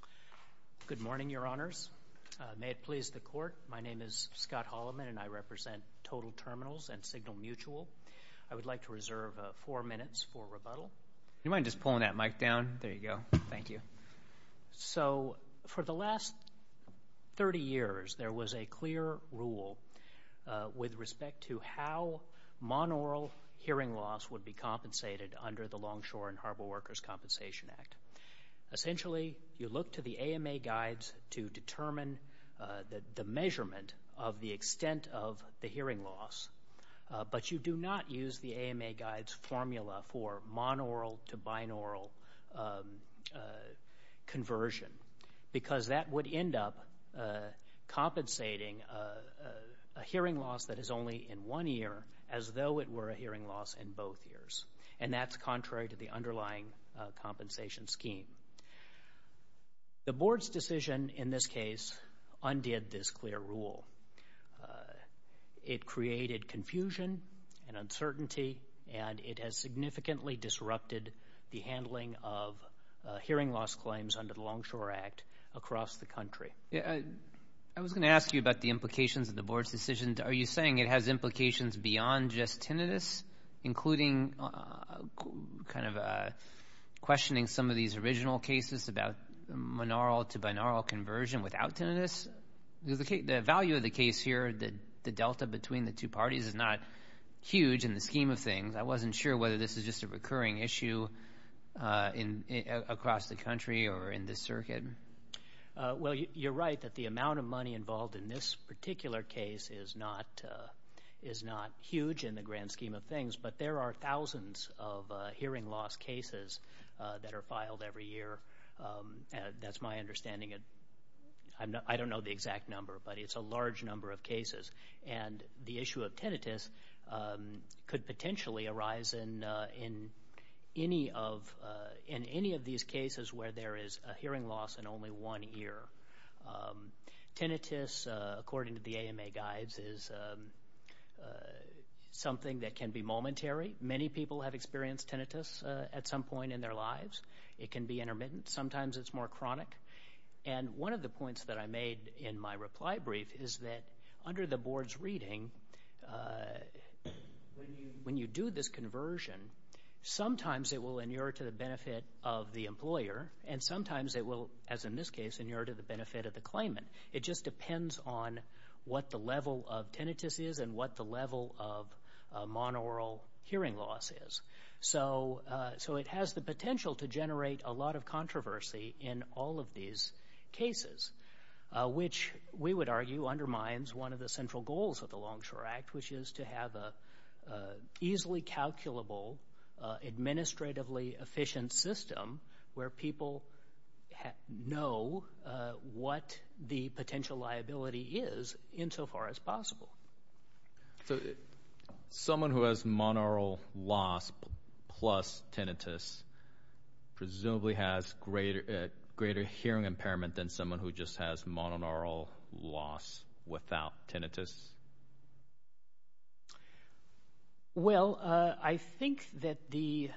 al. Good morning, Your Honors. May it please the Court, my name is Scott Holliman and I represent Total Terminals and Signal Mutual. I would like to reserve four minutes for rebuttal. Do you mind just pulling that mic down? There you go. Thank you. So for the last 30 years, there was a clear rule with respect to how monaural hearing loss would be compensated under the Longshore and Harbor Workers' Compensation Act. Essentially, you look to the AMA guides to determine the measurement of the extent of the hearing loss, but you do not use the AMA guide's formula for monaural to binaural conversion because that would end up compensating a hearing loss that is only in one ear as though it were a hearing loss in both ears, and that's contrary to the underlying compensation scheme. The Board's decision in this case undid this clear rule. It created confusion and uncertainty and it has significantly disrupted the handling of hearing loss claims under the Longshore Act across the country. I was going to ask you about the implications of the Board's decision. Are you saying it has implications beyond just tinnitus, including kind of questioning some of these original cases about monaural to binaural conversion without tinnitus? The value of the case here, the delta between the two parties is not huge in the scheme of things. I wasn't sure whether this is just a recurring issue across the country or in this circuit. Well, you're right that the amount of money involved in this particular case is not huge in the grand scheme of things, but there are thousands of hearing loss cases that are filed every year. That's my understanding. I don't know the exact number, but it's a large number of cases, and the issue of tinnitus could potentially arise in any of these cases where there is a hearing loss in only one ear. Tinnitus, according to the AMA guides, is something that can be momentary. Many people have experienced tinnitus at some point in their lives. It can be intermittent. Sometimes it's more chronic. And one of the points that I made in my reply brief is that under the Board's reading, when you do this conversion, sometimes it will occur to the benefit of the employer, and sometimes it will, as in this case, occur to the benefit of the claimant. It just depends on what the level of tinnitus is and what the level of monaural hearing loss is. So it has the potential to generate a lot of controversy in all of these cases, which we would argue undermines one of the central goals of the Longshore Act, which is to have an easily calculable, administratively efficient system where people know what the potential liability is insofar as possible. Someone who has monaural loss plus tinnitus presumably has greater hearing impairment than someone who just has monaural loss without tinnitus? Well, I think that you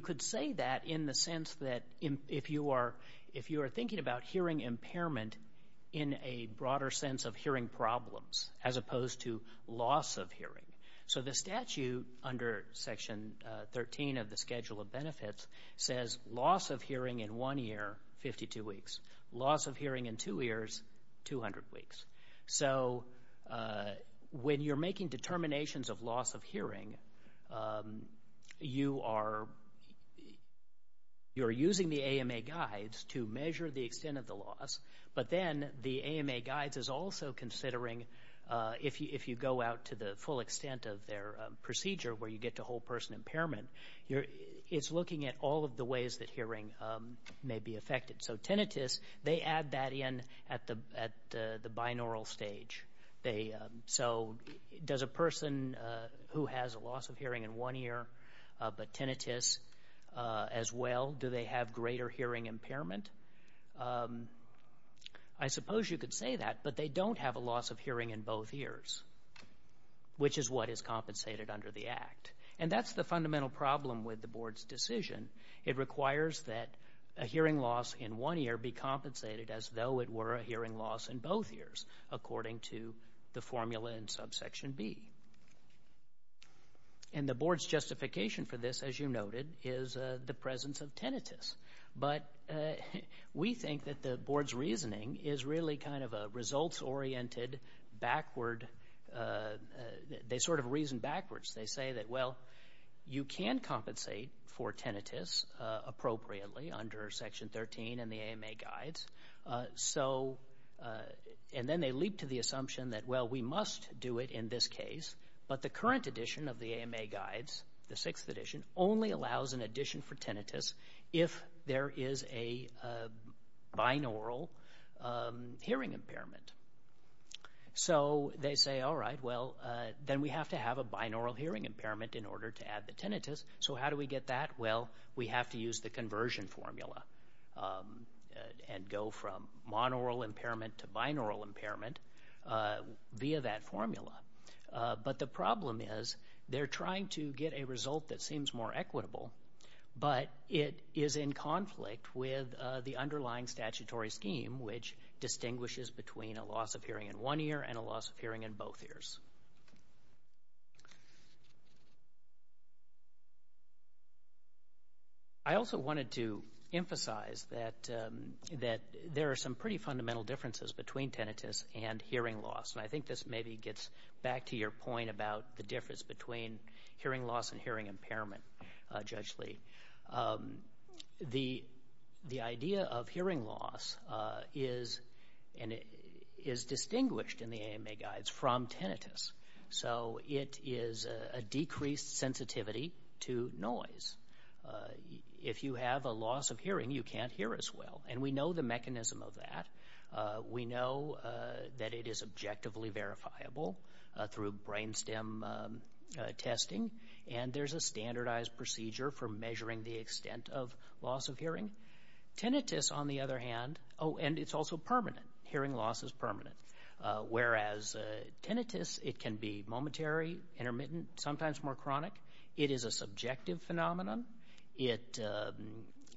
could say that in the sense that if you are thinking about hearing impairment in a broader sense of hearing problems as opposed to loss of hearing. So the statute under Section 13 of the Schedule of Benefits says loss of hearing in one year, 52 weeks. Loss of hearing in two years, 200 weeks. So when you're making determinations of loss of hearing, you are using the AMA guides to measure the extent of the loss, but then the procedure where you get to whole person impairment, it's looking at all of the ways that hearing may be affected. So tinnitus, they add that in at the binaural stage. So does a person who has a loss of hearing in one year but tinnitus as well, do they have greater hearing impairment? I suppose you could say that, but they don't have a loss of hearing in both years, which is what is compensated under the Act. And that's the fundamental problem with the Board's decision. It requires that a hearing loss in one year be compensated as though it were a hearing loss in both years, according to the formula in Subsection B. And the Board's justification for this, as you noted, is the presence of tinnitus. But we think that the Board's reasoning is really kind of a results-oriented, backward, they sort of reason backwards. They say that, well, you can compensate for tinnitus appropriately under Section 13 and the AMA guides. And then they leap to the assumption that, well, we must do it in this case, but the current edition of the AMA guides, the sixth edition, only allows an addition for tinnitus if there is a binaural hearing impairment. So they say, all right, well, then we have to have a binaural hearing impairment in order to add the tinnitus. So how do we get that? Well, we have to use the conversion formula and go from monaural impairment to binaural impairment via that formula. But the problem is they're trying to get a result that seems more equitable, but it is in conflict with the underlying statutory scheme, which distinguishes between a loss of hearing in one ear and a loss of hearing in both ears. I also wanted to emphasize that there are some pretty fundamental differences between tinnitus and hearing loss. And I think this maybe gets back to your point about the hearing loss and hearing impairment, Judge Lee. The idea of hearing loss is distinguished in the AMA guides from tinnitus. So it is a decreased sensitivity to noise. If you have a loss of hearing, you can't hear as well. And we know the mechanism of that. We know that it is objectively verifiable through brain stem testing. And there's a standardized procedure for measuring the extent of loss of hearing. Tinnitus, on the other hand, oh, and it's also permanent. Hearing loss is permanent. Whereas tinnitus, it can be momentary, intermittent, sometimes more chronic. It is a subjective phenomenon. It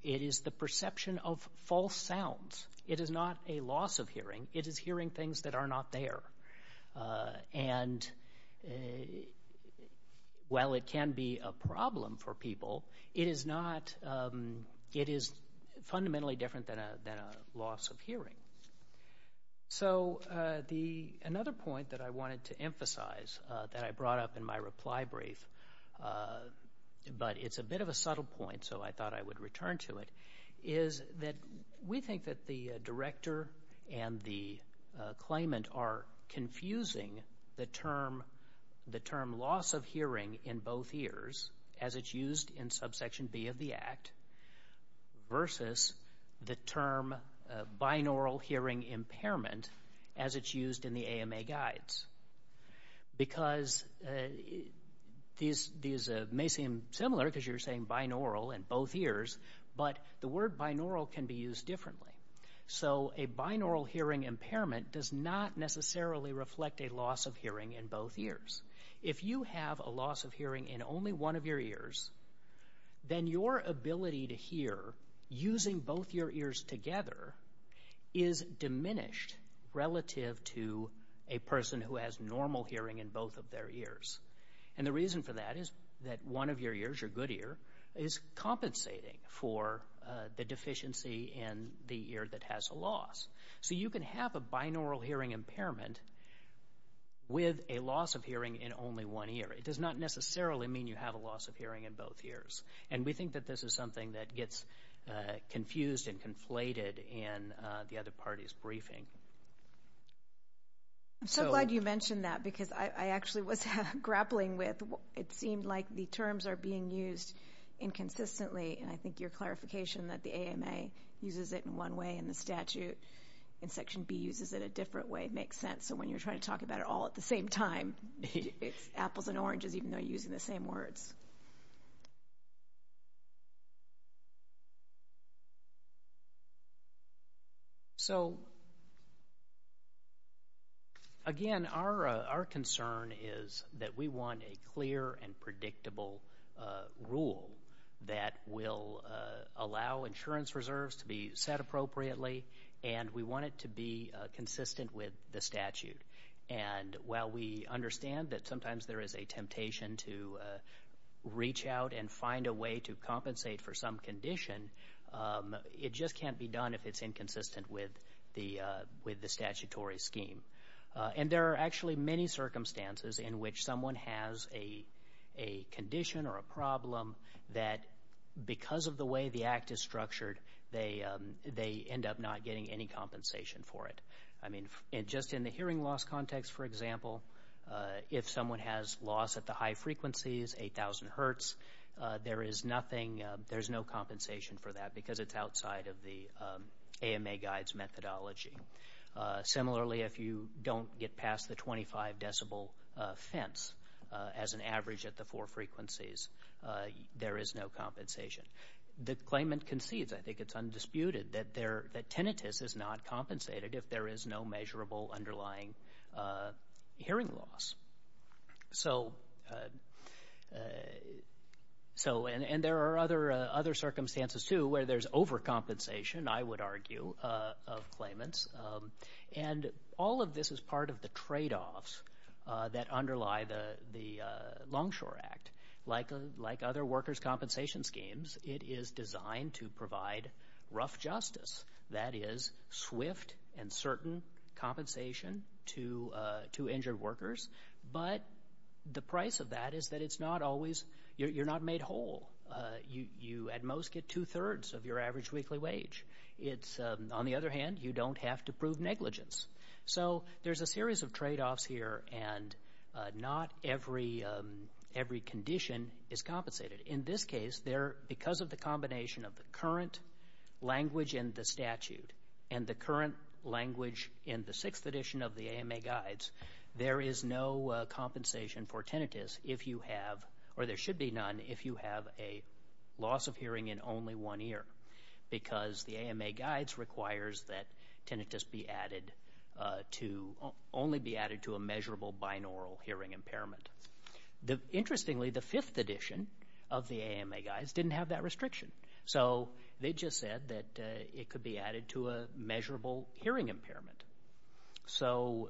is the perception of false sounds. It is not a loss of hearing. It is hearing things that are not there. And while it can be a problem for people, it is fundamentally different than a loss of hearing. So another point that I wanted to emphasize that I brought up in my reply brief, but it's a bit of a subtle point, so I thought I would return to it, is that we think that the director and the claimant are confusing the term loss of hearing in both ears, as it's used in subsection B of the Act, versus the term binaural hearing impairment, as it's used in the AMA guides. Because these may seem similar, because you're saying binaural in both ears, but the word binaural can be used differently. So a binaural hearing impairment does not necessarily reflect a loss of hearing in both ears. If you have a loss of hearing in only one of your ears, then your ability to hear using both your ears together is diminished relative to a person who has normal hearing in both of their ears. And the reason for that is that one of your ears, your good ear, is compensating for the deficiency in the ear that has a loss. So you can have a binaural hearing impairment with a loss of hearing in only one ear. It does not necessarily mean you have a loss of hearing in both ears. And we think that this is something that gets confused and conflated in the other party's briefing. I'm so glad you mentioned that, because I actually was grappling with, it seemed like the terms are being used inconsistently. And I think your clarification that the AMA uses it in one way, and the statute in section B uses it a different way, makes sense. So when you're trying to talk about it all at the same time, it's apples and oranges, even though you're using the same words. So, again, our concern is that we want a clear and predictable rule that will allow insurance reserves to be set appropriately, and we want it to be consistent with the statute. And while we understand that sometimes there is a temptation to reach out and find a way to compensate for some condition, it just can't be done if it's inconsistent with the statutory scheme. And there are actually many circumstances in which someone has a condition or a problem that because of the way the act is structured, they end up not getting any compensation for it. I mean, just in the hearing loss context, for example, if someone has loss at the high frequencies, 8,000 hertz, there is nothing, there's no compensation for that, because it's outside of the AMA guide's methodology. Similarly, if you don't get past the 25 decibel fence as an average at the four frequencies, there is no compensation. The claimant concedes, I think it's undisputed, that tinnitus is not compensated if there is no measurable underlying hearing loss. So, and there are other circumstances, too, where there's overcompensation, I would argue, of claimants. And all of this is part of the tradeoffs that underlie the rough justice, that is swift and certain compensation to injured workers. But the price of that is that it's not always, you're not made whole. You at most get two-thirds of your average weekly wage. It's, on the other hand, you don't have to prove negligence. So there's a series of tradeoffs here, and not every condition is compensated. In this case, because of the combination of the current language in the statute and the current language in the sixth edition of the AMA guides, there is no compensation for tinnitus if you have, or there should be none, if you have a loss of hearing in only one ear, because the AMA guides requires that tinnitus be added to, only be added to a measurable binaural hearing impairment. Interestingly, the fifth edition of the AMA guides didn't have that restriction. So they just said that it could be added to a measurable hearing impairment. So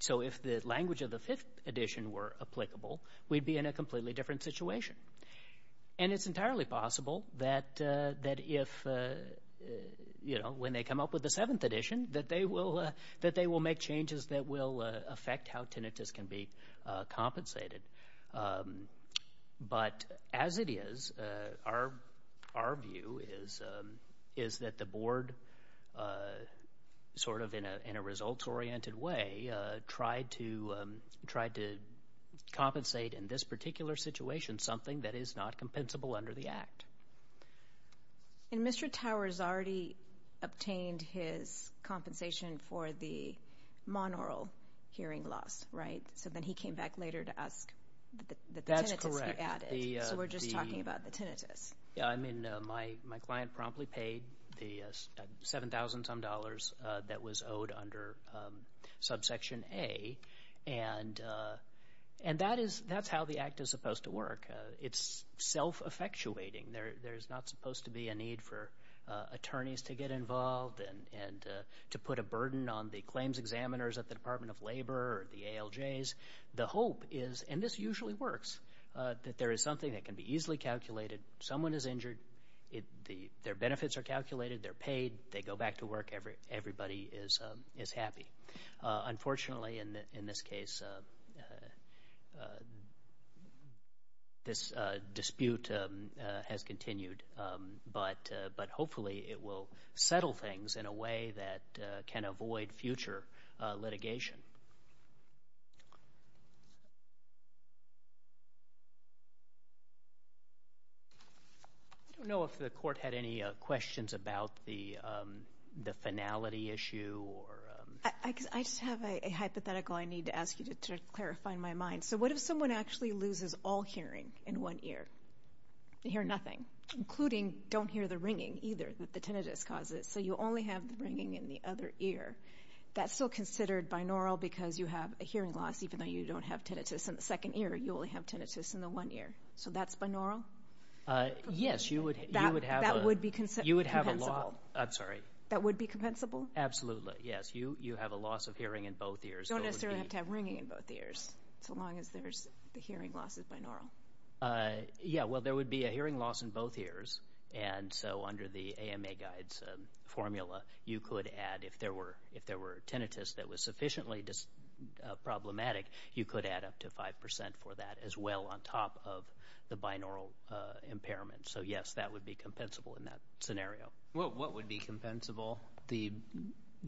if the language of the fifth edition were applicable, we'd be in a completely different situation. And it's entirely possible that if, you know, when they come up with the seventh edition, that they will make changes that will affect how tinnitus can be compensated. But as it is, our view is that the Board, sort of in a results-oriented way, tried to compensate in this particular situation something that is not compensable under the Act. And Mr. Towers already obtained his compensation for the monaural hearing loss, right? So then he came back later to ask that the tinnitus be added. That's correct. The... So we're just talking about the tinnitus. Yeah, I mean, my client promptly paid the 7,000-some dollars that was owed under subsection A. And that is, that's how the Act is supposed to work. It's self-effectuating. There are not supposed to be a need for attorneys to get involved and to put a burden on the claims examiners at the Department of Labor or the ALJs. The hope is, and this usually works, that there is something that can be easily calculated. Someone is injured. Their benefits are calculated. They're paid. They go back to work. Everybody is happy. Unfortunately, in this case, this dispute has continued. And I think that's the way it's continued. But hopefully it will settle things in a way that can avoid future litigation. I don't know if the Court had any questions about the finality issue or... I just have a hypothetical I need to ask you to clarify in my mind. So what if someone actually loses all hearing in one ear? They hear nothing, including don't hear the ringing either that the tinnitus causes. So you only have the ringing in the other ear. That's still considered binaural because you have a hearing loss. Even though you don't have tinnitus in the second ear, you only have tinnitus in the one ear. So that's binaural? Yes, you would have a... That would be compensable. You would have a loss. I'm sorry. That would be compensable? Absolutely, yes. You have a loss of hearing in both ears. You don't necessarily have to have ringing in both ears, so long as the hearing loss is binaural. Yes, well there would be a hearing loss in both ears. And so under the AMA Guide's formula, you could add, if there were tinnitus that was sufficiently problematic, you could add up to 5% for that as well on top of the binaural impairment. So yes, that would be compensable in that scenario. What would be compensable? The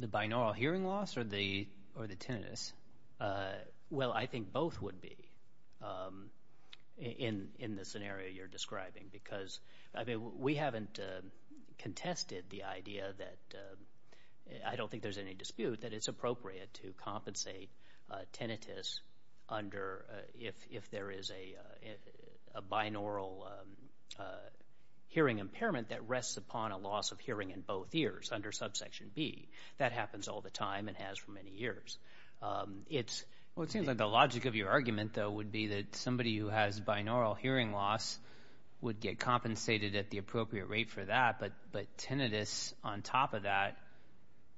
binaural hearing loss or the tinnitus? Well, I think both would be in the scenario you're describing because we haven't contested the idea that, I don't think there's any dispute, that it's appropriate to compensate tinnitus under if there is a binaural hearing impairment that rests upon a loss of hearing in both ears under subsection B. That happens all the time and has for many years. Well, it seems like the logic of your argument though would be that somebody who has binaural hearing loss would get compensated at the appropriate rate for that, but tinnitus on top of that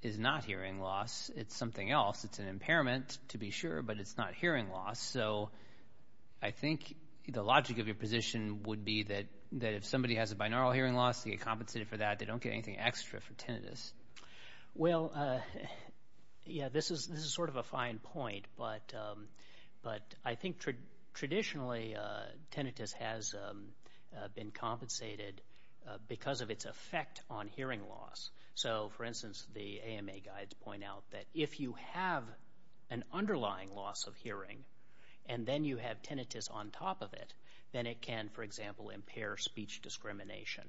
is not hearing loss. It's something else. It's an impairment to be sure, but it's not hearing loss. So I think the logic of your position would be that if somebody has a binaural hearing loss, they get compensated for that. They don't get anything extra for tinnitus. Well, yeah, this is sort of a fine point, but I think traditionally tinnitus has been compensated because of its effect on hearing loss. So for instance, the AMA guides point out that if you have an underlying loss of hearing and then you have tinnitus on top of it, then it can, for example, impair speech discrimination.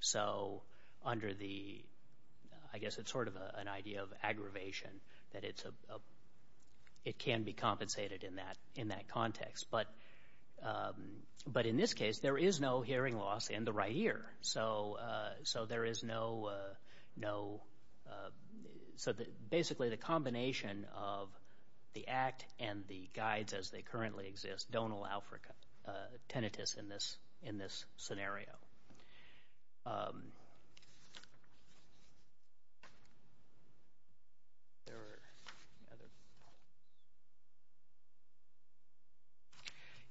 So under the, I guess it's sort of an idea of aggravation, that it can be compensated in that context. But in this case, there is no hearing loss in the right ear. So there is no, so basically the combination of the act and the guides as they currently exist don't allow for tinnitus in this scenario.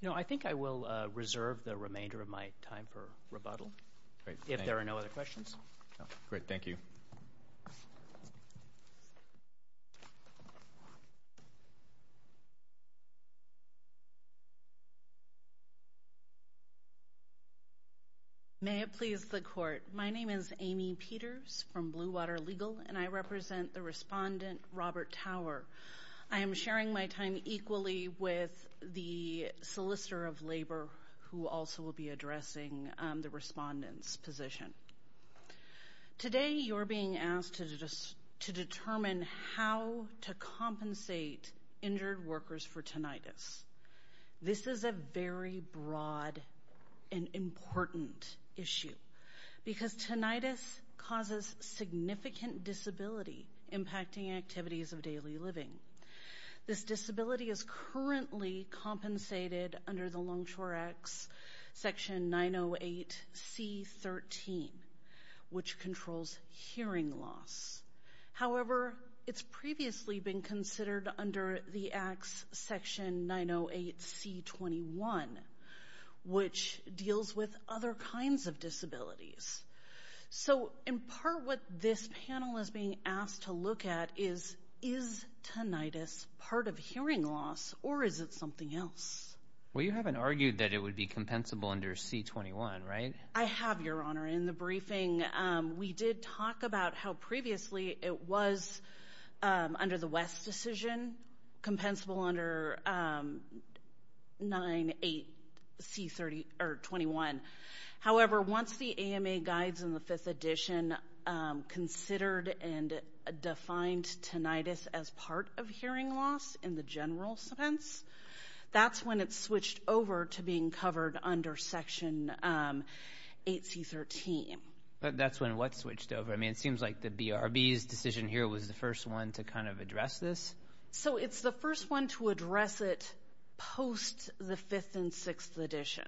You know, I think I will reserve the remainder of my time for rebuttal if there are no other questions. Great. Thank you. May it please the Court. My name is Amy Peters from Blue Water Legal, and I represent the Solicitor of Labor, who also will be addressing the Respondent's position. Today you're being asked to determine how to compensate injured workers for tinnitus. This is a very broad and important issue, because tinnitus causes significant disability impacting activities of daily living. This disability is currently compensated under the Longshore Act's Section 908C-13, which controls hearing loss. However, it's previously been considered under the Act's Section 908C-21, which deals with other kinds of disabilities. So in part, what this panel is being asked to look at is, is tinnitus part of hearing loss, or is it something else? Well, you haven't argued that it would be compensable under C-21, right? I have, Your Honor. In the briefing, we did talk about how previously it was, under the West decision, compensable under 98C-21. However, once the AMA granted the hearing loss, it guides in the Fifth Edition, considered and defined tinnitus as part of hearing loss in the general sense. That's when it switched over to being covered under Section 8C-13. That's when what switched over? I mean, it seems like the BRB's decision here was the first one to kind of address this. So it's the first one to address it post the Fifth and Sixth Edition.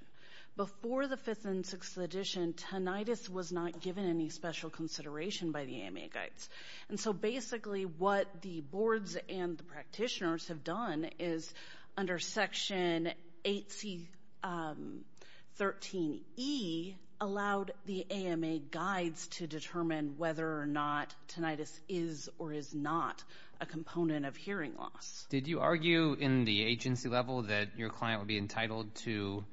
Before the Fifth and Sixth Edition, tinnitus was not given any special consideration by the AMA guides. And so basically what the boards and the practitioners have done is, under Section 8C-13E, allowed the AMA guides to determine whether or not tinnitus is or is not a component of hearing loss. Did you argue in the agency level that your client would be entitled to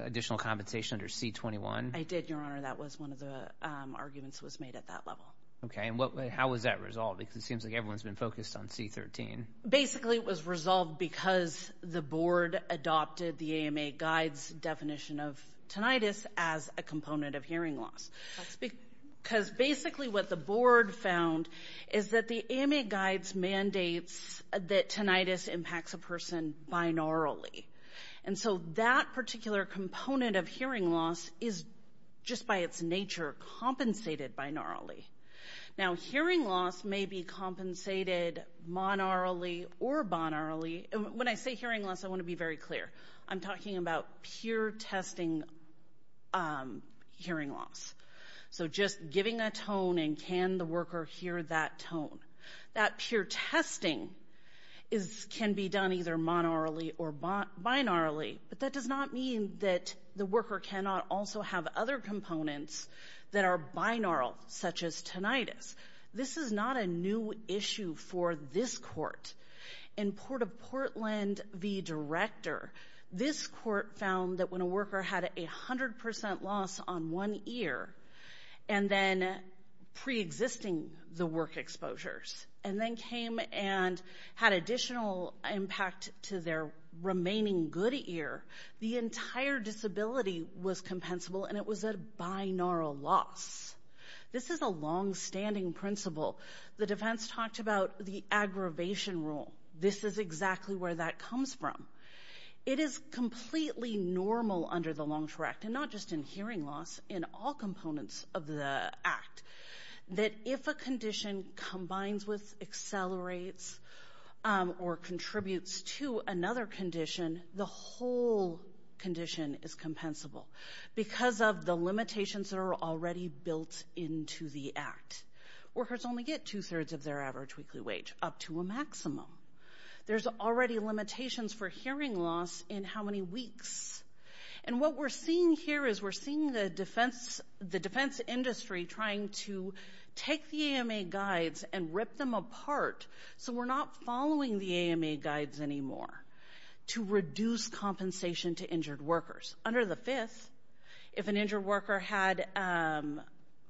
additional compensation under C-21? I did, Your Honor. That was one of the arguments that was made at that level. Okay. And how was that resolved? Because it seems like everyone's been focused on C-13. Basically it was resolved because the board adopted the AMA guides' definition of tinnitus as a component of hearing loss. Because basically what the board found is that the AMA guides mandates that tinnitus impacts a person binaurally. And so that particular component of hearing loss is just by its nature compensated binaurally. Now hearing loss may be compensated monaurally or binaurally. When I say hearing loss, I want to be very clear. I'm talking about pure testing hearing loss. So just giving a tone and can the worker hear that tone. That pure testing can be done either monaurally or binaurally, but that does not mean that the worker cannot also have other components that are binaural such as tinnitus. This is not a new issue for this court. In Port of Portland v. Director, this court found that when a worker had a 100% loss on one ear and then pre-existing the work exposures and then came and had additional impact to their remaining good ear, it was the entire disability was compensable and it was a binaural loss. This is a long-standing principle. The defense talked about the aggravation rule. This is exactly where that comes from. It is completely normal under the Long-Term Act, and not just in hearing loss, in all components of the act, that if a condition combines with, accelerates, or contributes to another condition, the whole condition is compensable because of the limitations that are already built into the act. Workers only get two-thirds of their average weekly wage, up to a maximum. There's already limitations for hearing loss in how many weeks. And what we're seeing here is we're seeing the defense industry trying to take the AMA guides and guidelines anymore to reduce compensation to injured workers. Under the Fifth, if an injured worker had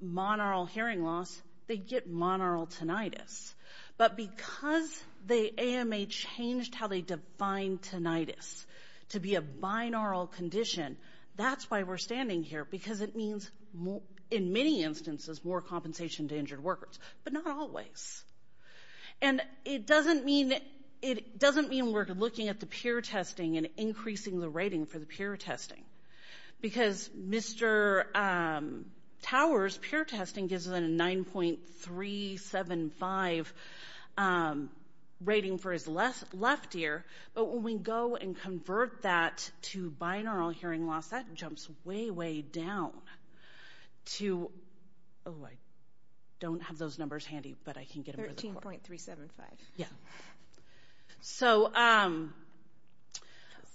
monaural hearing loss, they'd get monaural tinnitus. But because the AMA changed how they defined tinnitus to be a binaural condition, that's why we're standing here, because it means, in many instances, more compensation to injured workers. But not always. And it doesn't mean we're looking at the peer testing and increasing the rating for the peer testing. Because Mr. Tower's peer testing gives him a 9.375 rating for his left ear, but when we go and convert that to binaural hearing loss, that jumps way, way down to, oh, I don't have those numbers handy, but I can get them. 13.375. So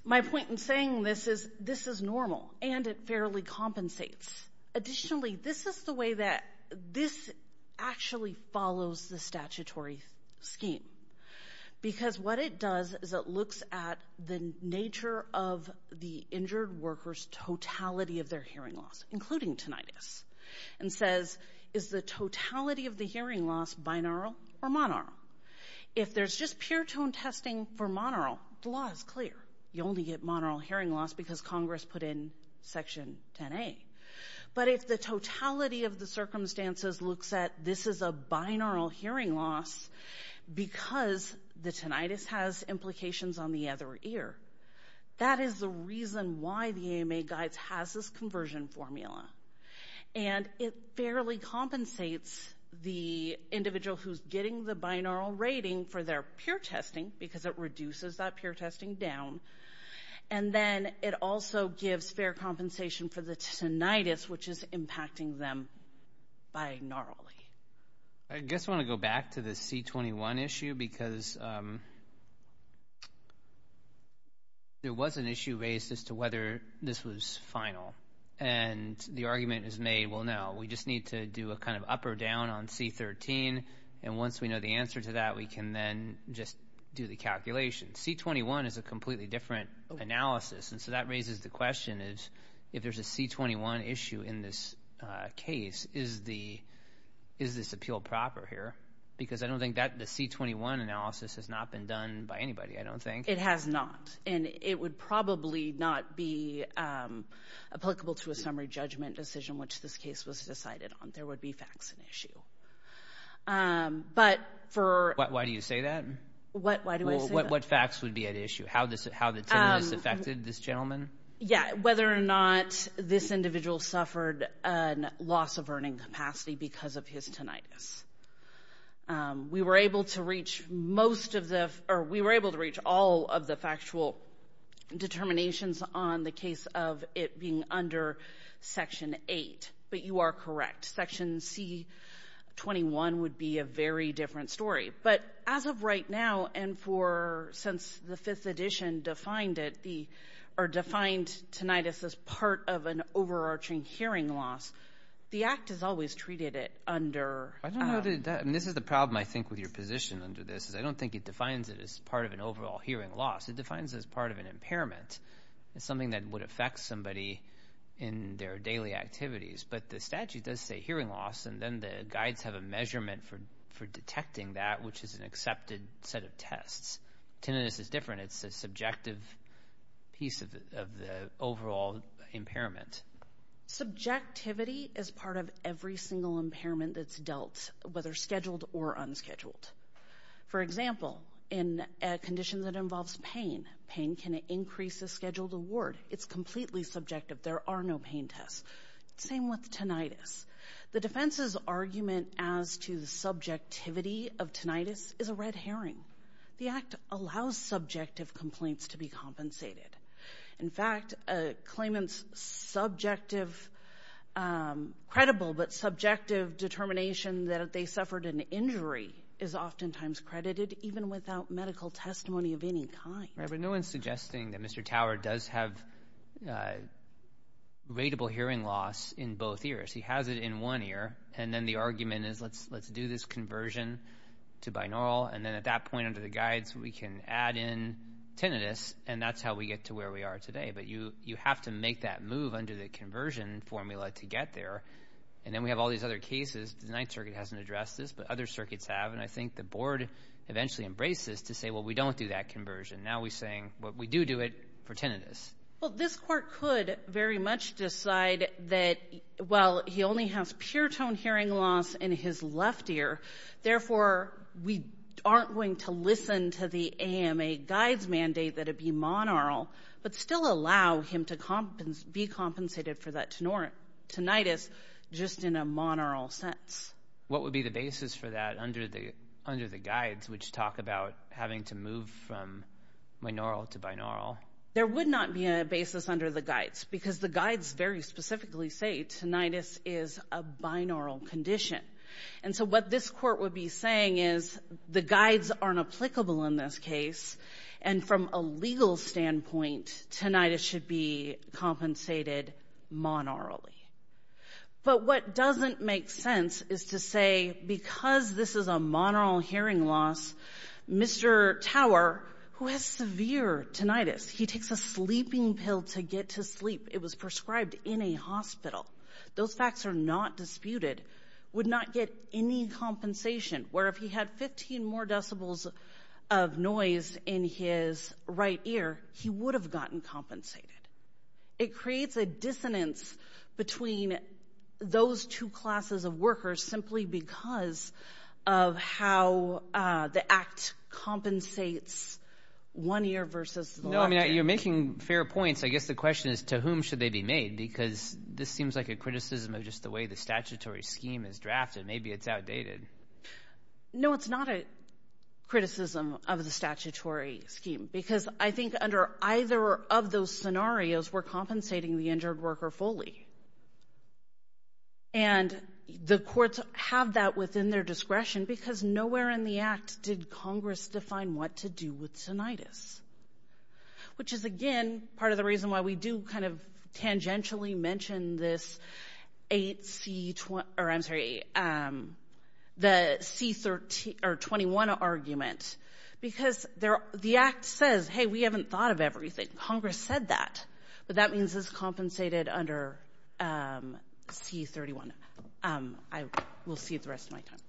my point in saying this is, this is normal. And it fairly compensates. Additionally, this is the way that this actually follows the statutory scheme. Because what it does is it looks at the nature of the injured worker's totality of their hearing loss, including tinnitus, and says, is the totality of the hearing loss binaural or monaural? If there's just peer-tone testing for monaural, the law is clear. You only get monaural hearing loss because Congress put in Section 10A. But if the totality of the circumstances looks at, this is a binaural hearing loss because the tinnitus has implications on the other ear, that is the reason why the AMA guides has this conversion formula. And it fairly compensates the individual who's getting the binaural rating for their peer testing, because it reduces that peer testing down. And then it also gives fair compensation for the tinnitus, which is impacting them binaurally. I guess I want to go back to the C21 issue, because there was an issue raised as to whether this was final. And the argument is made, well, no, we just need to do a kind of up or down on C13. And once we know the answer to that, we can then just do the calculation. C21 is a completely different analysis. And so that raises the question is, if there's a C21 issue in this case, is this appeal proper here? Because I don't think that the C21 analysis has not been done by anybody, I don't think. It has not. And it would probably not be applicable to a summary judgment decision, which this case was decided on. There would be facts and issue. But for... Why do you say that? Why do I say that? What facts would be at issue? How the tinnitus affected this gentleman? Yeah, whether or not this individual suffered a loss of earning capacity because of his tinnitus. We were able to reach most of the, or we were able to reach all of the factual determinations on the case of it being under Section 8. But you are correct. Section C21 would be a very different story. But as of right now, and for, since the 5th edition defined it, or defined tinnitus as part of an overarching hearing loss, the Act has always treated it under... I don't know that, and this is the problem, I think, with your position under this, is I don't think it defines it as part of an overall hearing loss. It defines it as part of an impairment. It's something that would affect somebody in their daily activities. But the statute does say hearing loss, and then the guides have a measurement for detecting that, which is an accepted set of tests. Tinnitus is different. It's a subjective piece of the overall impairment. Subjectivity is part of every single impairment that's dealt, whether scheduled or unscheduled. For example, in a condition that involves pain, pain can increase the scheduled award. It's completely subjective. There are no pain tests. Same with tinnitus. The defense's argument as to the subjectivity of tinnitus is a red herring. The Act allows subjective complaints to be compensated. In fact, a claimant's subjective, credible but subjective determination that they suffered an injury is oftentimes credited, even without medical testimony of any kind. No one's suggesting that Mr. Tower does have rateable hearing loss in both ears. He has it in one ear, and then the argument is, let's do this conversion to binaural, and then at that point under the guides, we can add in tinnitus, and that's how we get to where we are today. But you have to make that move under the conversion formula to get there. And then we have all these other cases. The Ninth Circuit hasn't addressed this, but other circuits have, and I think the board eventually embraces this to say, well, we don't do that for tinnitus, but we do do it for tinnitus. This court could very much decide that, well, he only has pure tone hearing loss in his left ear, therefore we aren't going to listen to the AMA guides' mandate that it be monaural, but still allow him to be compensated for that tinnitus just in a monaural sense. What would be the basis for that under the guides, which talk about having to move from binaural to binaural? There would not be a basis under the guides, because the guides very specifically say tinnitus is a binaural condition. And so what this court would be saying is, the guides aren't applicable in this case, and from a legal standpoint, tinnitus should be compensated monaurally. But what doesn't make sense is to say, because this is a monaural hearing loss, Mr. Tower, who has severe tinnitus, he takes a sleeping pill to get to sleep, it was prescribed in a hospital, those facts are not disputed, would not get any compensation, where if he had 15 more decibels of noise in his right ear, he would have gotten compensated. It creates a dissonance between those two classes of workers simply because of how the act compensates one ear versus the other. No, I mean, you're making fair points. I guess the question is, to whom should they be made? Because this seems like a criticism of just the way the statutory scheme is drafted. Maybe it's outdated. No, it's not a criticism of the statutory scheme, because I think under either of those scenarios, we're compensating the injured worker fully. And the courts have that within their discretion, because nowhere in the act did Congress define what to do with tinnitus, which is, again, part of the reason why we do kind of tangentially mention this 8C, or I'm sorry, the C21 argument, because the act says, hey, we haven't thought of everything. Congress said that, but that means it's compensated under C31. I will see it the rest of my time.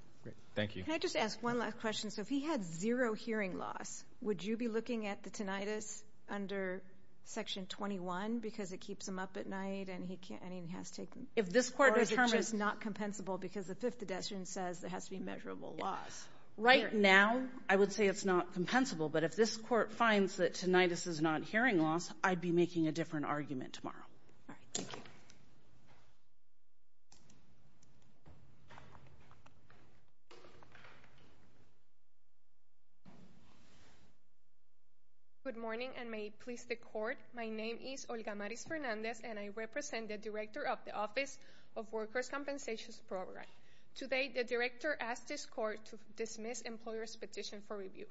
Thank you. Can I just ask one last question? So if he had zero hearing loss, would you be looking at the tinnitus under Section 21, because it keeps him up at night and he has to take them? If this court determines... Or is it just not compensable because the Fifth Addiction says there has to be measurable loss? Right now, I would say it's not compensable, but if this court finds that tinnitus is not hearing loss, I'd be making a different argument tomorrow. Good morning, and may it please the Court. My name is Olga Maris Fernandez, and I represent the Director of the Office of Workers' Compensation Program. Today, the Director asked this court to dismiss employers' petition for review.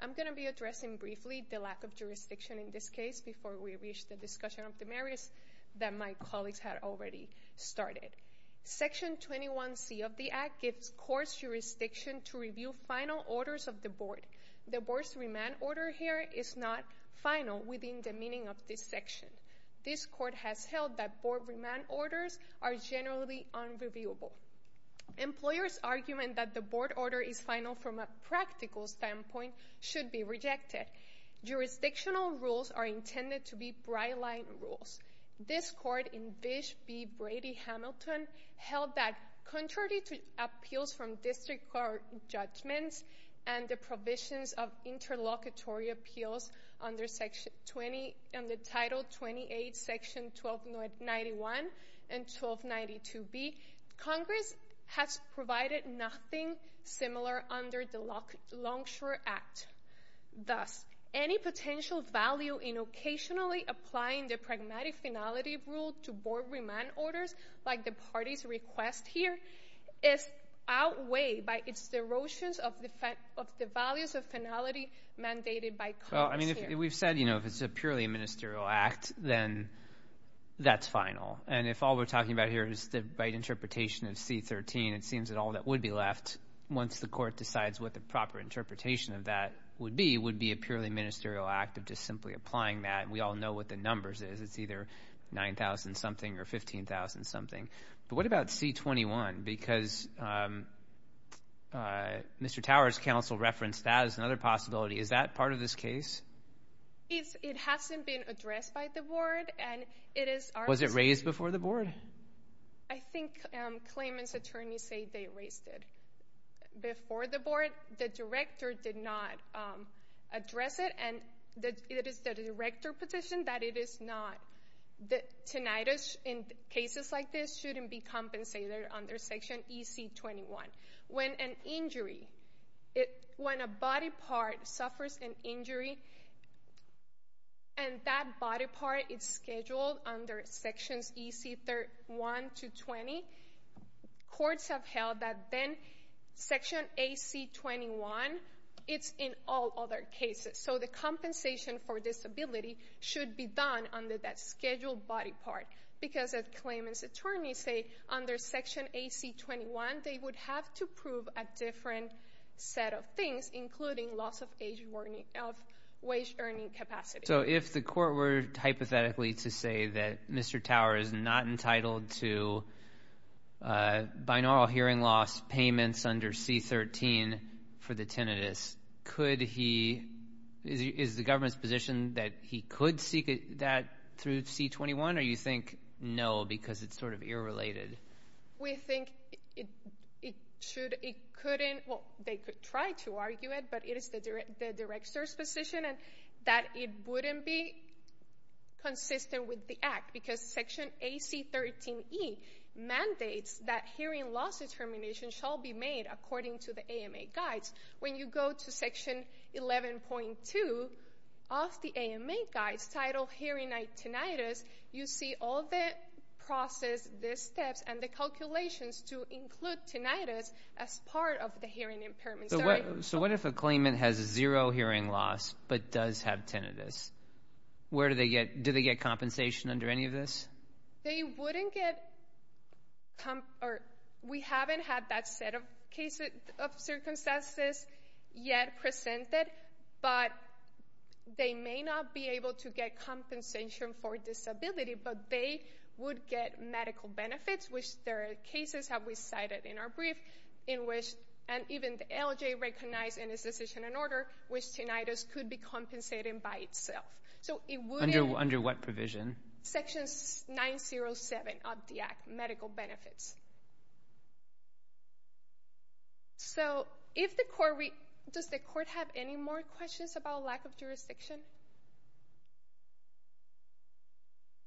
I'm going to be addressing briefly the lack of jurisdiction in this case before we reach the discussion of the merits that my colleagues had already started. Section 21C of the Act gives courts jurisdiction to review final orders of the board. The board's remand order here is not final within the meaning of this section. This court has held that board remand orders are generally unreviewable. Employers' argument that the board order is not practical standpoint should be rejected. Jurisdictional rules are intended to be bright light rules. This court in Bish v. Brady-Hamilton held that, contrary to appeals from district court judgments and the provisions of interlocutory appeals under Title 28, Section 1291 and 1292b, Congress has provided nothing similar under the Longshore Act. Thus, any potential value in occasionally applying the pragmatic finality rule to board remand orders, like the party's request here, is outweighed by its derotions of the values of finality mandated by Congress here. We've said, you know, if it's purely a ministerial act, then that's final. And if all we're talking about here is the right interpretation of C-13, it seems that all that would be left, once the court decides what the proper interpretation of that would be, would be a purely ministerial act of just simply applying that. And we all know what the numbers is. It's either 9,000-something or 15,000-something. But what about C-21? Because Mr. Towers' counsel referenced that as another possibility. Is that part of this case? It hasn't been addressed by the board, and it is our responsibility. Was it raised before the board? I think claimant's attorneys say they raised it before the board. The director did not address it, and it is the director's position that it is not. Tinnitus in cases like this shouldn't be compensated under Section EC-21. When an injury, when a body part suffers an injury, under Sections EC-1 to 20, courts have held that then Section AC-21, it's in all other cases. So the compensation for disability should be done under that scheduled body part. Because as claimant's attorneys say, under Section AC-21, they would have to prove a different set of things, including loss of wage earning capacity. So if the court were hypothetically to say that Mr. Towers is not entitled to binaural hearing loss payments under C-13 for the tinnitus, is the government's position that he could seek that through C-21? Or do you think, no, because it's sort of irrelated? We think it should, it couldn't, well, they could try to argue it, but it is the director's position that it wouldn't be consistent with the Act. Because Section AC-13E mandates that hearing loss determination shall be made according to the AMA guides. When you go to Section 11.2 of the AMA guides, titled Hearing Aids Tinnitus, you see all the process, the steps and the calculations to include tinnitus as part of the hearing impairment. So what if a claimant has zero hearing loss, but does have tinnitus? Do they get compensation under any of this? We haven't had that set of circumstances yet presented, but they may not be able to get compensation for disability, but they would get medical benefits, which there are cases that we cited in our brief, and even the LJ recognized in his decision and order, which tinnitus could be compensated by itself. Under what provision? Section 907 of the Act, medical benefits. So if the court, does the court have any more questions about lack of jurisdiction?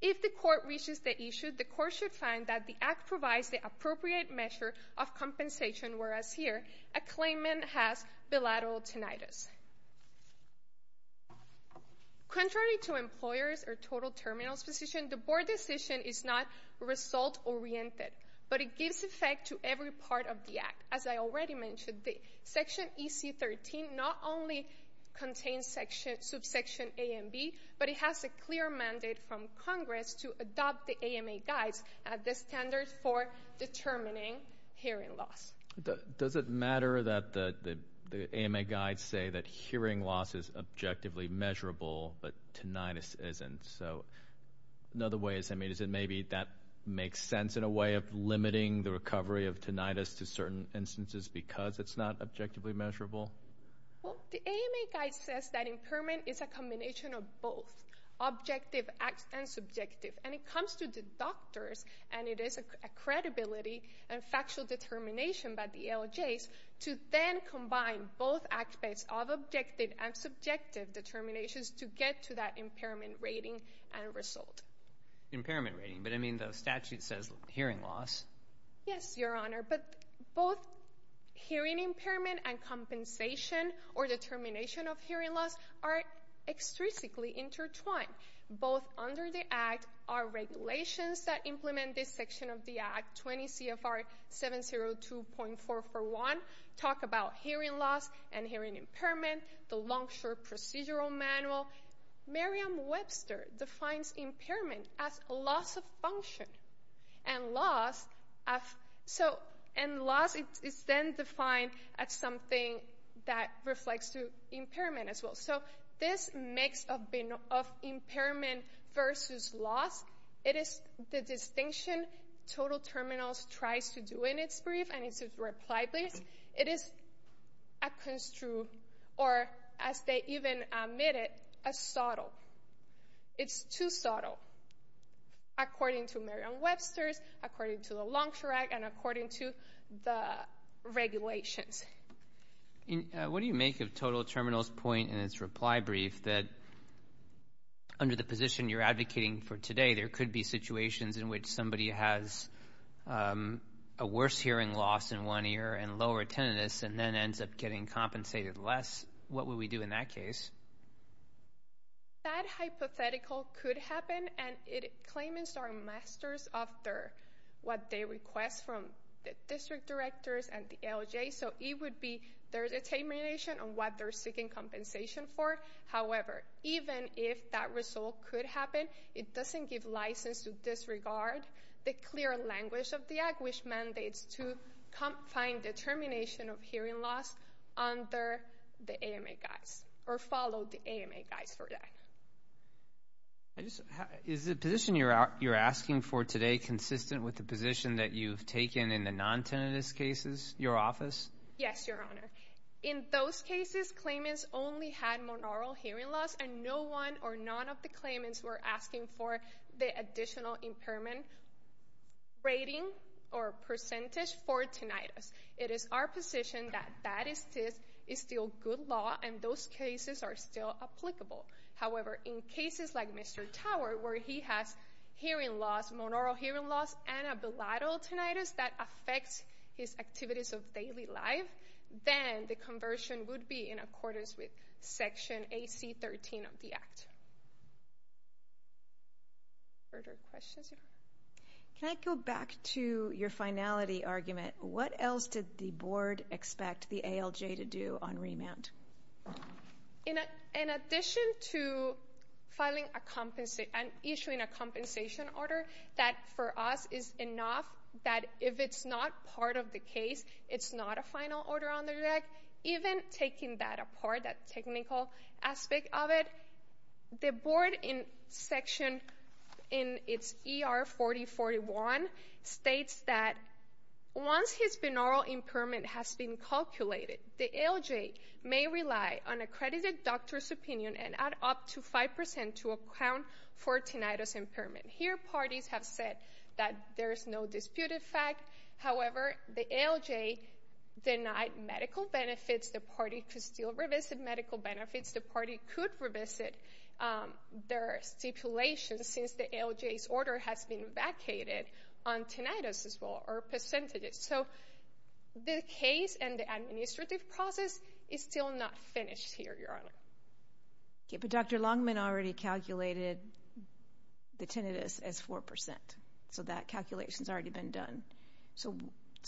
If the court reaches the issue, the court should find that the Act provides the appropriate measure of compensation, whereas here, a claimant has bilateral tinnitus. Contrary to employers or total terminals position, the board decision is not result-oriented, but it gives effect to every part of the Act. As I already mentioned, Section EC-13 not only contains subsection A and B, but it has a clear mandate from Congress to adopt the standards for determining hearing loss. Does it matter that the AMA guides say that hearing loss is objectively measurable, but tinnitus isn't? So another way is, I mean, is it maybe that makes sense in a way of limiting the recovery of tinnitus to certain instances because it's not objectively measurable? Well, the AMA guide says that impairment is a combination of both, objective and subjective, and it comes to the doctors, and it is a credibility and factual determination by the LJs to then combine both aspects of objective and subjective determinations to get to that impairment rating and result. Impairment rating, but I mean, the statute says hearing loss. Yes, Your Honor, but both hearing impairment and compensation or determination of hearing loss are extrinsically intertwined. Both under the Act are regulations that implement this section of the Act, 20 CFR 702.441, talk about hearing loss and hearing impairment, the long-short procedural manual. Merriam-Webster defines impairment as loss of function, and loss is then defined as something that reflects to impairment as well. So this mix of impairment versus loss, it is the distinction total terminals tries to do in its brief and its reply brief. It is a construed, or as they even admit it, a subtle. It's too subtle, according to Merriam-Webster's, according to the long-short Act, and according to the regulations. What do you make of total terminals point in its reply brief that under the position you're advocating for today, there could be situations in which somebody has a worse hearing loss in one ear and lower tinnitus, and then ends up getting compensated less. What would we do in that case? That hypothetical could happen, and claimants are masters of what they request from the district directors and the ALJ, so it would be their determination on what they're seeking compensation for. However, even if that result could happen, it doesn't give license to disregard the clear language of the Act, which mandates to find determination of hearing loss under the AMA guise, or follow the AMA guise for that. Is the position you're asking for today consistent with the position that you've taken in the non-tinnitus cases, your office? Yes, your honor. In those cases, claimants only had monaural hearing loss, and no one or none of the claimants were asking for the additional impairment rating or percentage for tinnitus. It is our position that that is still good law, and those cases are still applicable. However, in cases like Mr. Tower, where he has hearing loss, monaural hearing loss, and a bilateral tinnitus that affects his activities of daily life, then the conversion would be in accordance with Section AC-13 of the Act. Further questions, your honor? Can I go back to your finality argument? What else did the Board expect the ALJ to do on remand? In addition to filing a compensation, and issuing a compensation order, that for us is enough that if it's not part of the case, it's not a final order on the record, even taking that apart, that technical aspect of it, the Board in Section, in its ER-4041, states that once his monaural impairment has been calculated, the ALJ may rely on accredited doctor's opinion and add up to 5% to account for tinnitus impairment. Here, parties have said that there is no disputed fact. However, the ALJ denied medical benefits the parties could still revisit medical benefits. The parties could revisit their stipulations since the ALJ's order has been vacated on tinnitus as well, or percentages. So, the case and the administrative process is still not finished here, your honor. Okay, but Dr. Longman already calculated the tinnitus as 4%, so that calculation's already been done. So,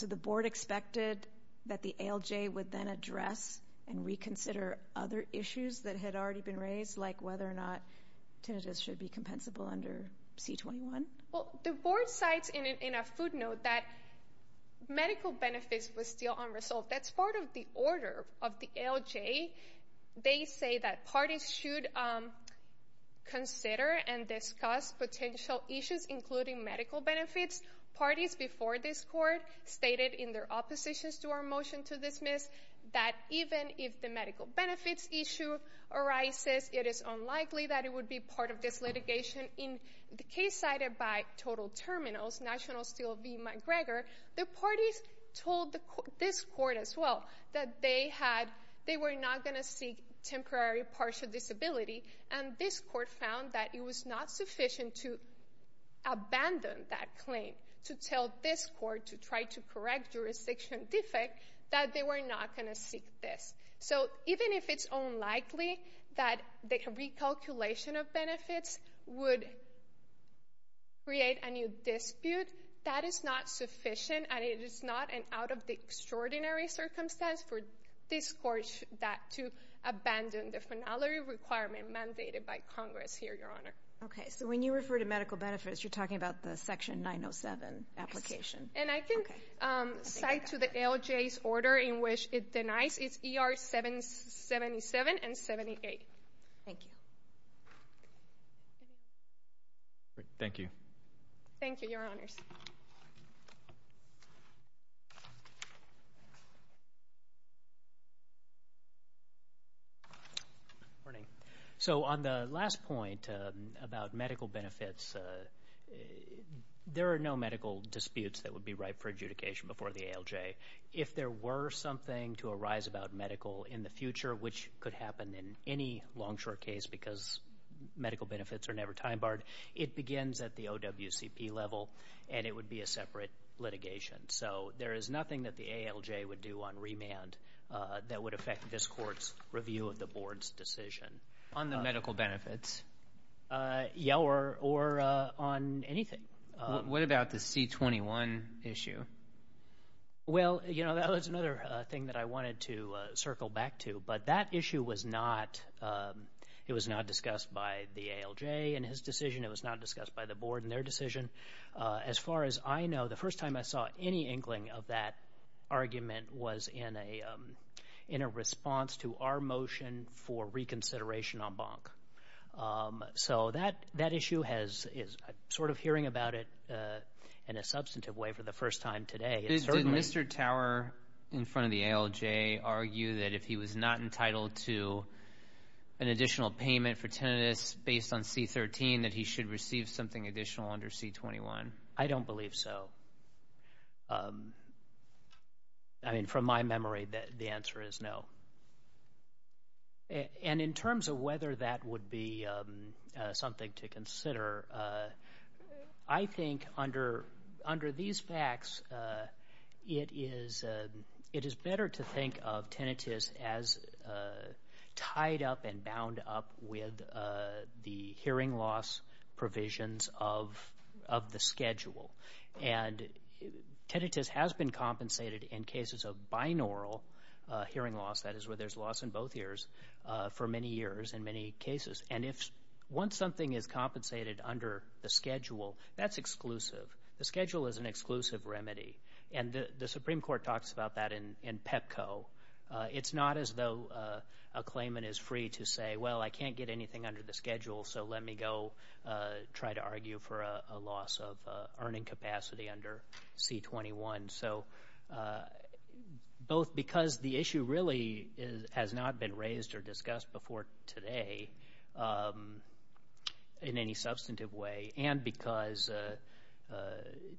the Board expected that the ALJ would then address and reconsider other issues that had already been raised, like whether or not tinnitus should be compensable under C-21? Well, the Board cites in a footnote that medical benefits were still unresolved. That's part of the order of the ALJ. They say that parties should consider and discuss potential issues including medical benefits. Parties before this Court stated in their oppositions to our motion to dismiss that even if the medical benefits issue arises, it is unlikely that it would be part of this litigation. In the case cited by Total Terminals, National Steel v. McGregor, the parties told this Court as well that they were not going to seek temporary partial disability, and this Court found that it was not sufficient to abandon that claim, to tell this Court to try to correct jurisdiction defect, that they were not going to seek this. So, even if it's unlikely that the recalculation of benefits would create a new dispute, that is not sufficient, and it is not out of the extraordinary circumstance for this Court to abandon the finality requirement mandated by Congress here, Your Honor. Okay, so when you refer to medical benefits, you're talking about the Section 907 application. And I can cite to the ALJ's order in which it denies, it's ER 777 and 78. Thank you. Thank you. Thank you, Your Honors. Good morning. So on the last point about medical benefits, there are no medical disputes that would be right for adjudication before the ALJ. If there were something to arise about medical in the future, which could happen in any long-short case because medical benefits are never time-barred, it begins at the OWCP level, and it would be a separate litigation. So there is nothing that the ALJ would do on remand that would affect this Court's review of the Board's decision. On the medical benefits? Yeah, or on anything. What about the C-21 issue? Well, you know, that was another thing that I wanted to circle back to, but that issue was not, it was not discussed by the ALJ in his decision. It was not discussed by the ALJ. Any inkling of that argument was in a response to our motion for reconsideration on bonk. So that issue is sort of hearing about it in a substantive way for the first time today. Did Mr. Tower in front of the ALJ argue that if he was not entitled to an additional payment for tinnitus based on C-13, that he should receive something additional under C-21? I don't believe so. I mean, from my memory, the answer is no. And in terms of whether that would be something to consider, I think under these facts, it is better to think of the schedule. And tinnitus has been compensated in cases of binaural hearing loss, that is where there's loss in both ears, for many years in many cases. And if, once something is compensated under the schedule, that's exclusive. The schedule is an exclusive remedy. And the Supreme Court talks about that in PEPCO. It's not as though a claimant is free to say, well, I can't get anything under the schedule, so let me go try to argue for a loss of earning capacity under C-21. So both because the issue really has not been raised or discussed before today in any substantive way, and because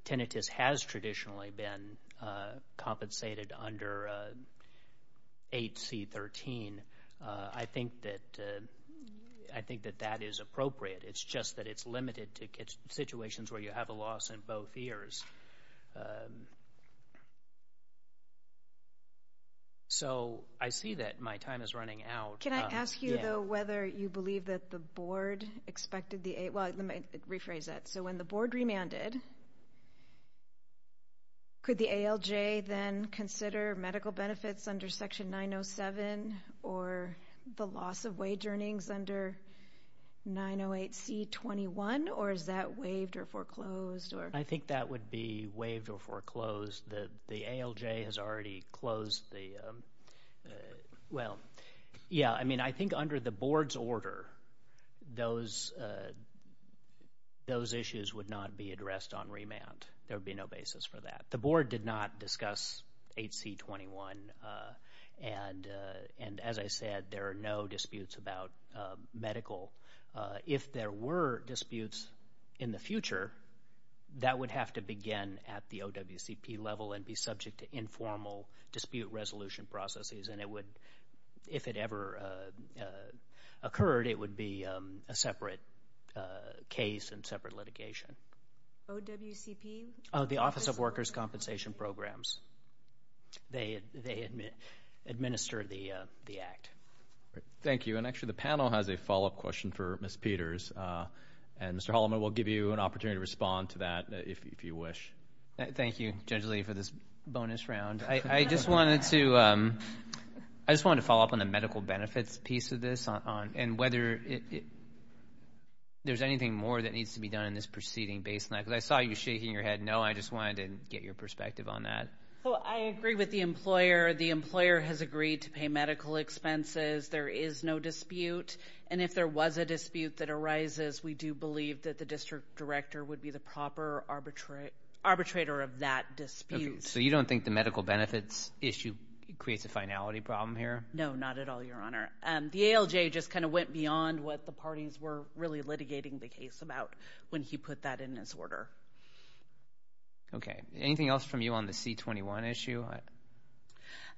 tinnitus has traditionally been compensated under 8C-13, I think that that is appropriate. It's just that it's limited to situations where you have a loss in both ears. So I see that my time is running out. Can I ask you, though, whether you believe that the board expected the ALJ, well, let me rephrase that. So when the board remanded, could the ALJ then consider medical benefits under Section 907, or the loss of wage earnings under 908C-21, or is that waived or foreclosed? I think that would be waived or foreclosed. The ALJ has already closed the, well, yeah, I mean, I think under the board's order, those issues would not be addressed on remand. There did not discuss 8C-21, and as I said, there are no disputes about medical. If there were disputes in the future, that would have to begin at the OWCP level and be subject to informal dispute resolution processes, and it would, if it ever occurred, it would be a separate case and separate litigation. OWCP? The Office of Workers' Compensation Programs. They administer the act. Thank you, and actually, the panel has a follow-up question for Ms. Peters, and Mr. Holloman will give you an opportunity to respond to that if you wish. Thank you, Judge Lee, for this bonus round. I just wanted to follow up on the medical benefits piece of this, and whether there's anything more that needs to be done in this proceeding based on that, because I saw you shaking your head no. I just wanted to get your perspective on that. Well, I agree with the employer. The employer has agreed to pay medical expenses. There is no dispute, and if there was a dispute that arises, we do believe that the district director would be the proper arbitrator of that dispute. Okay, so you don't think the medical benefits issue creates a finality problem here? No, not at all, Your Honor. The ALJ just kind of went beyond what the parties were really litigating the case about when he put that in his order. Okay, anything else from you on the C-21 issue?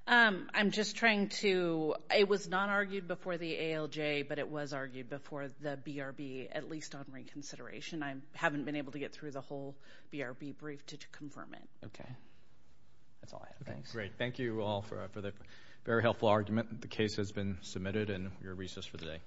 I'm just trying to, it was not argued before the ALJ, but it was argued before the BRB, at least on reconsideration. I haven't been able to get through the whole BRB brief to confirm it. Okay, that's all I have. Thanks. Great. Thank you all for the very helpful argument. The case has been submitted, and you're recessed for the day.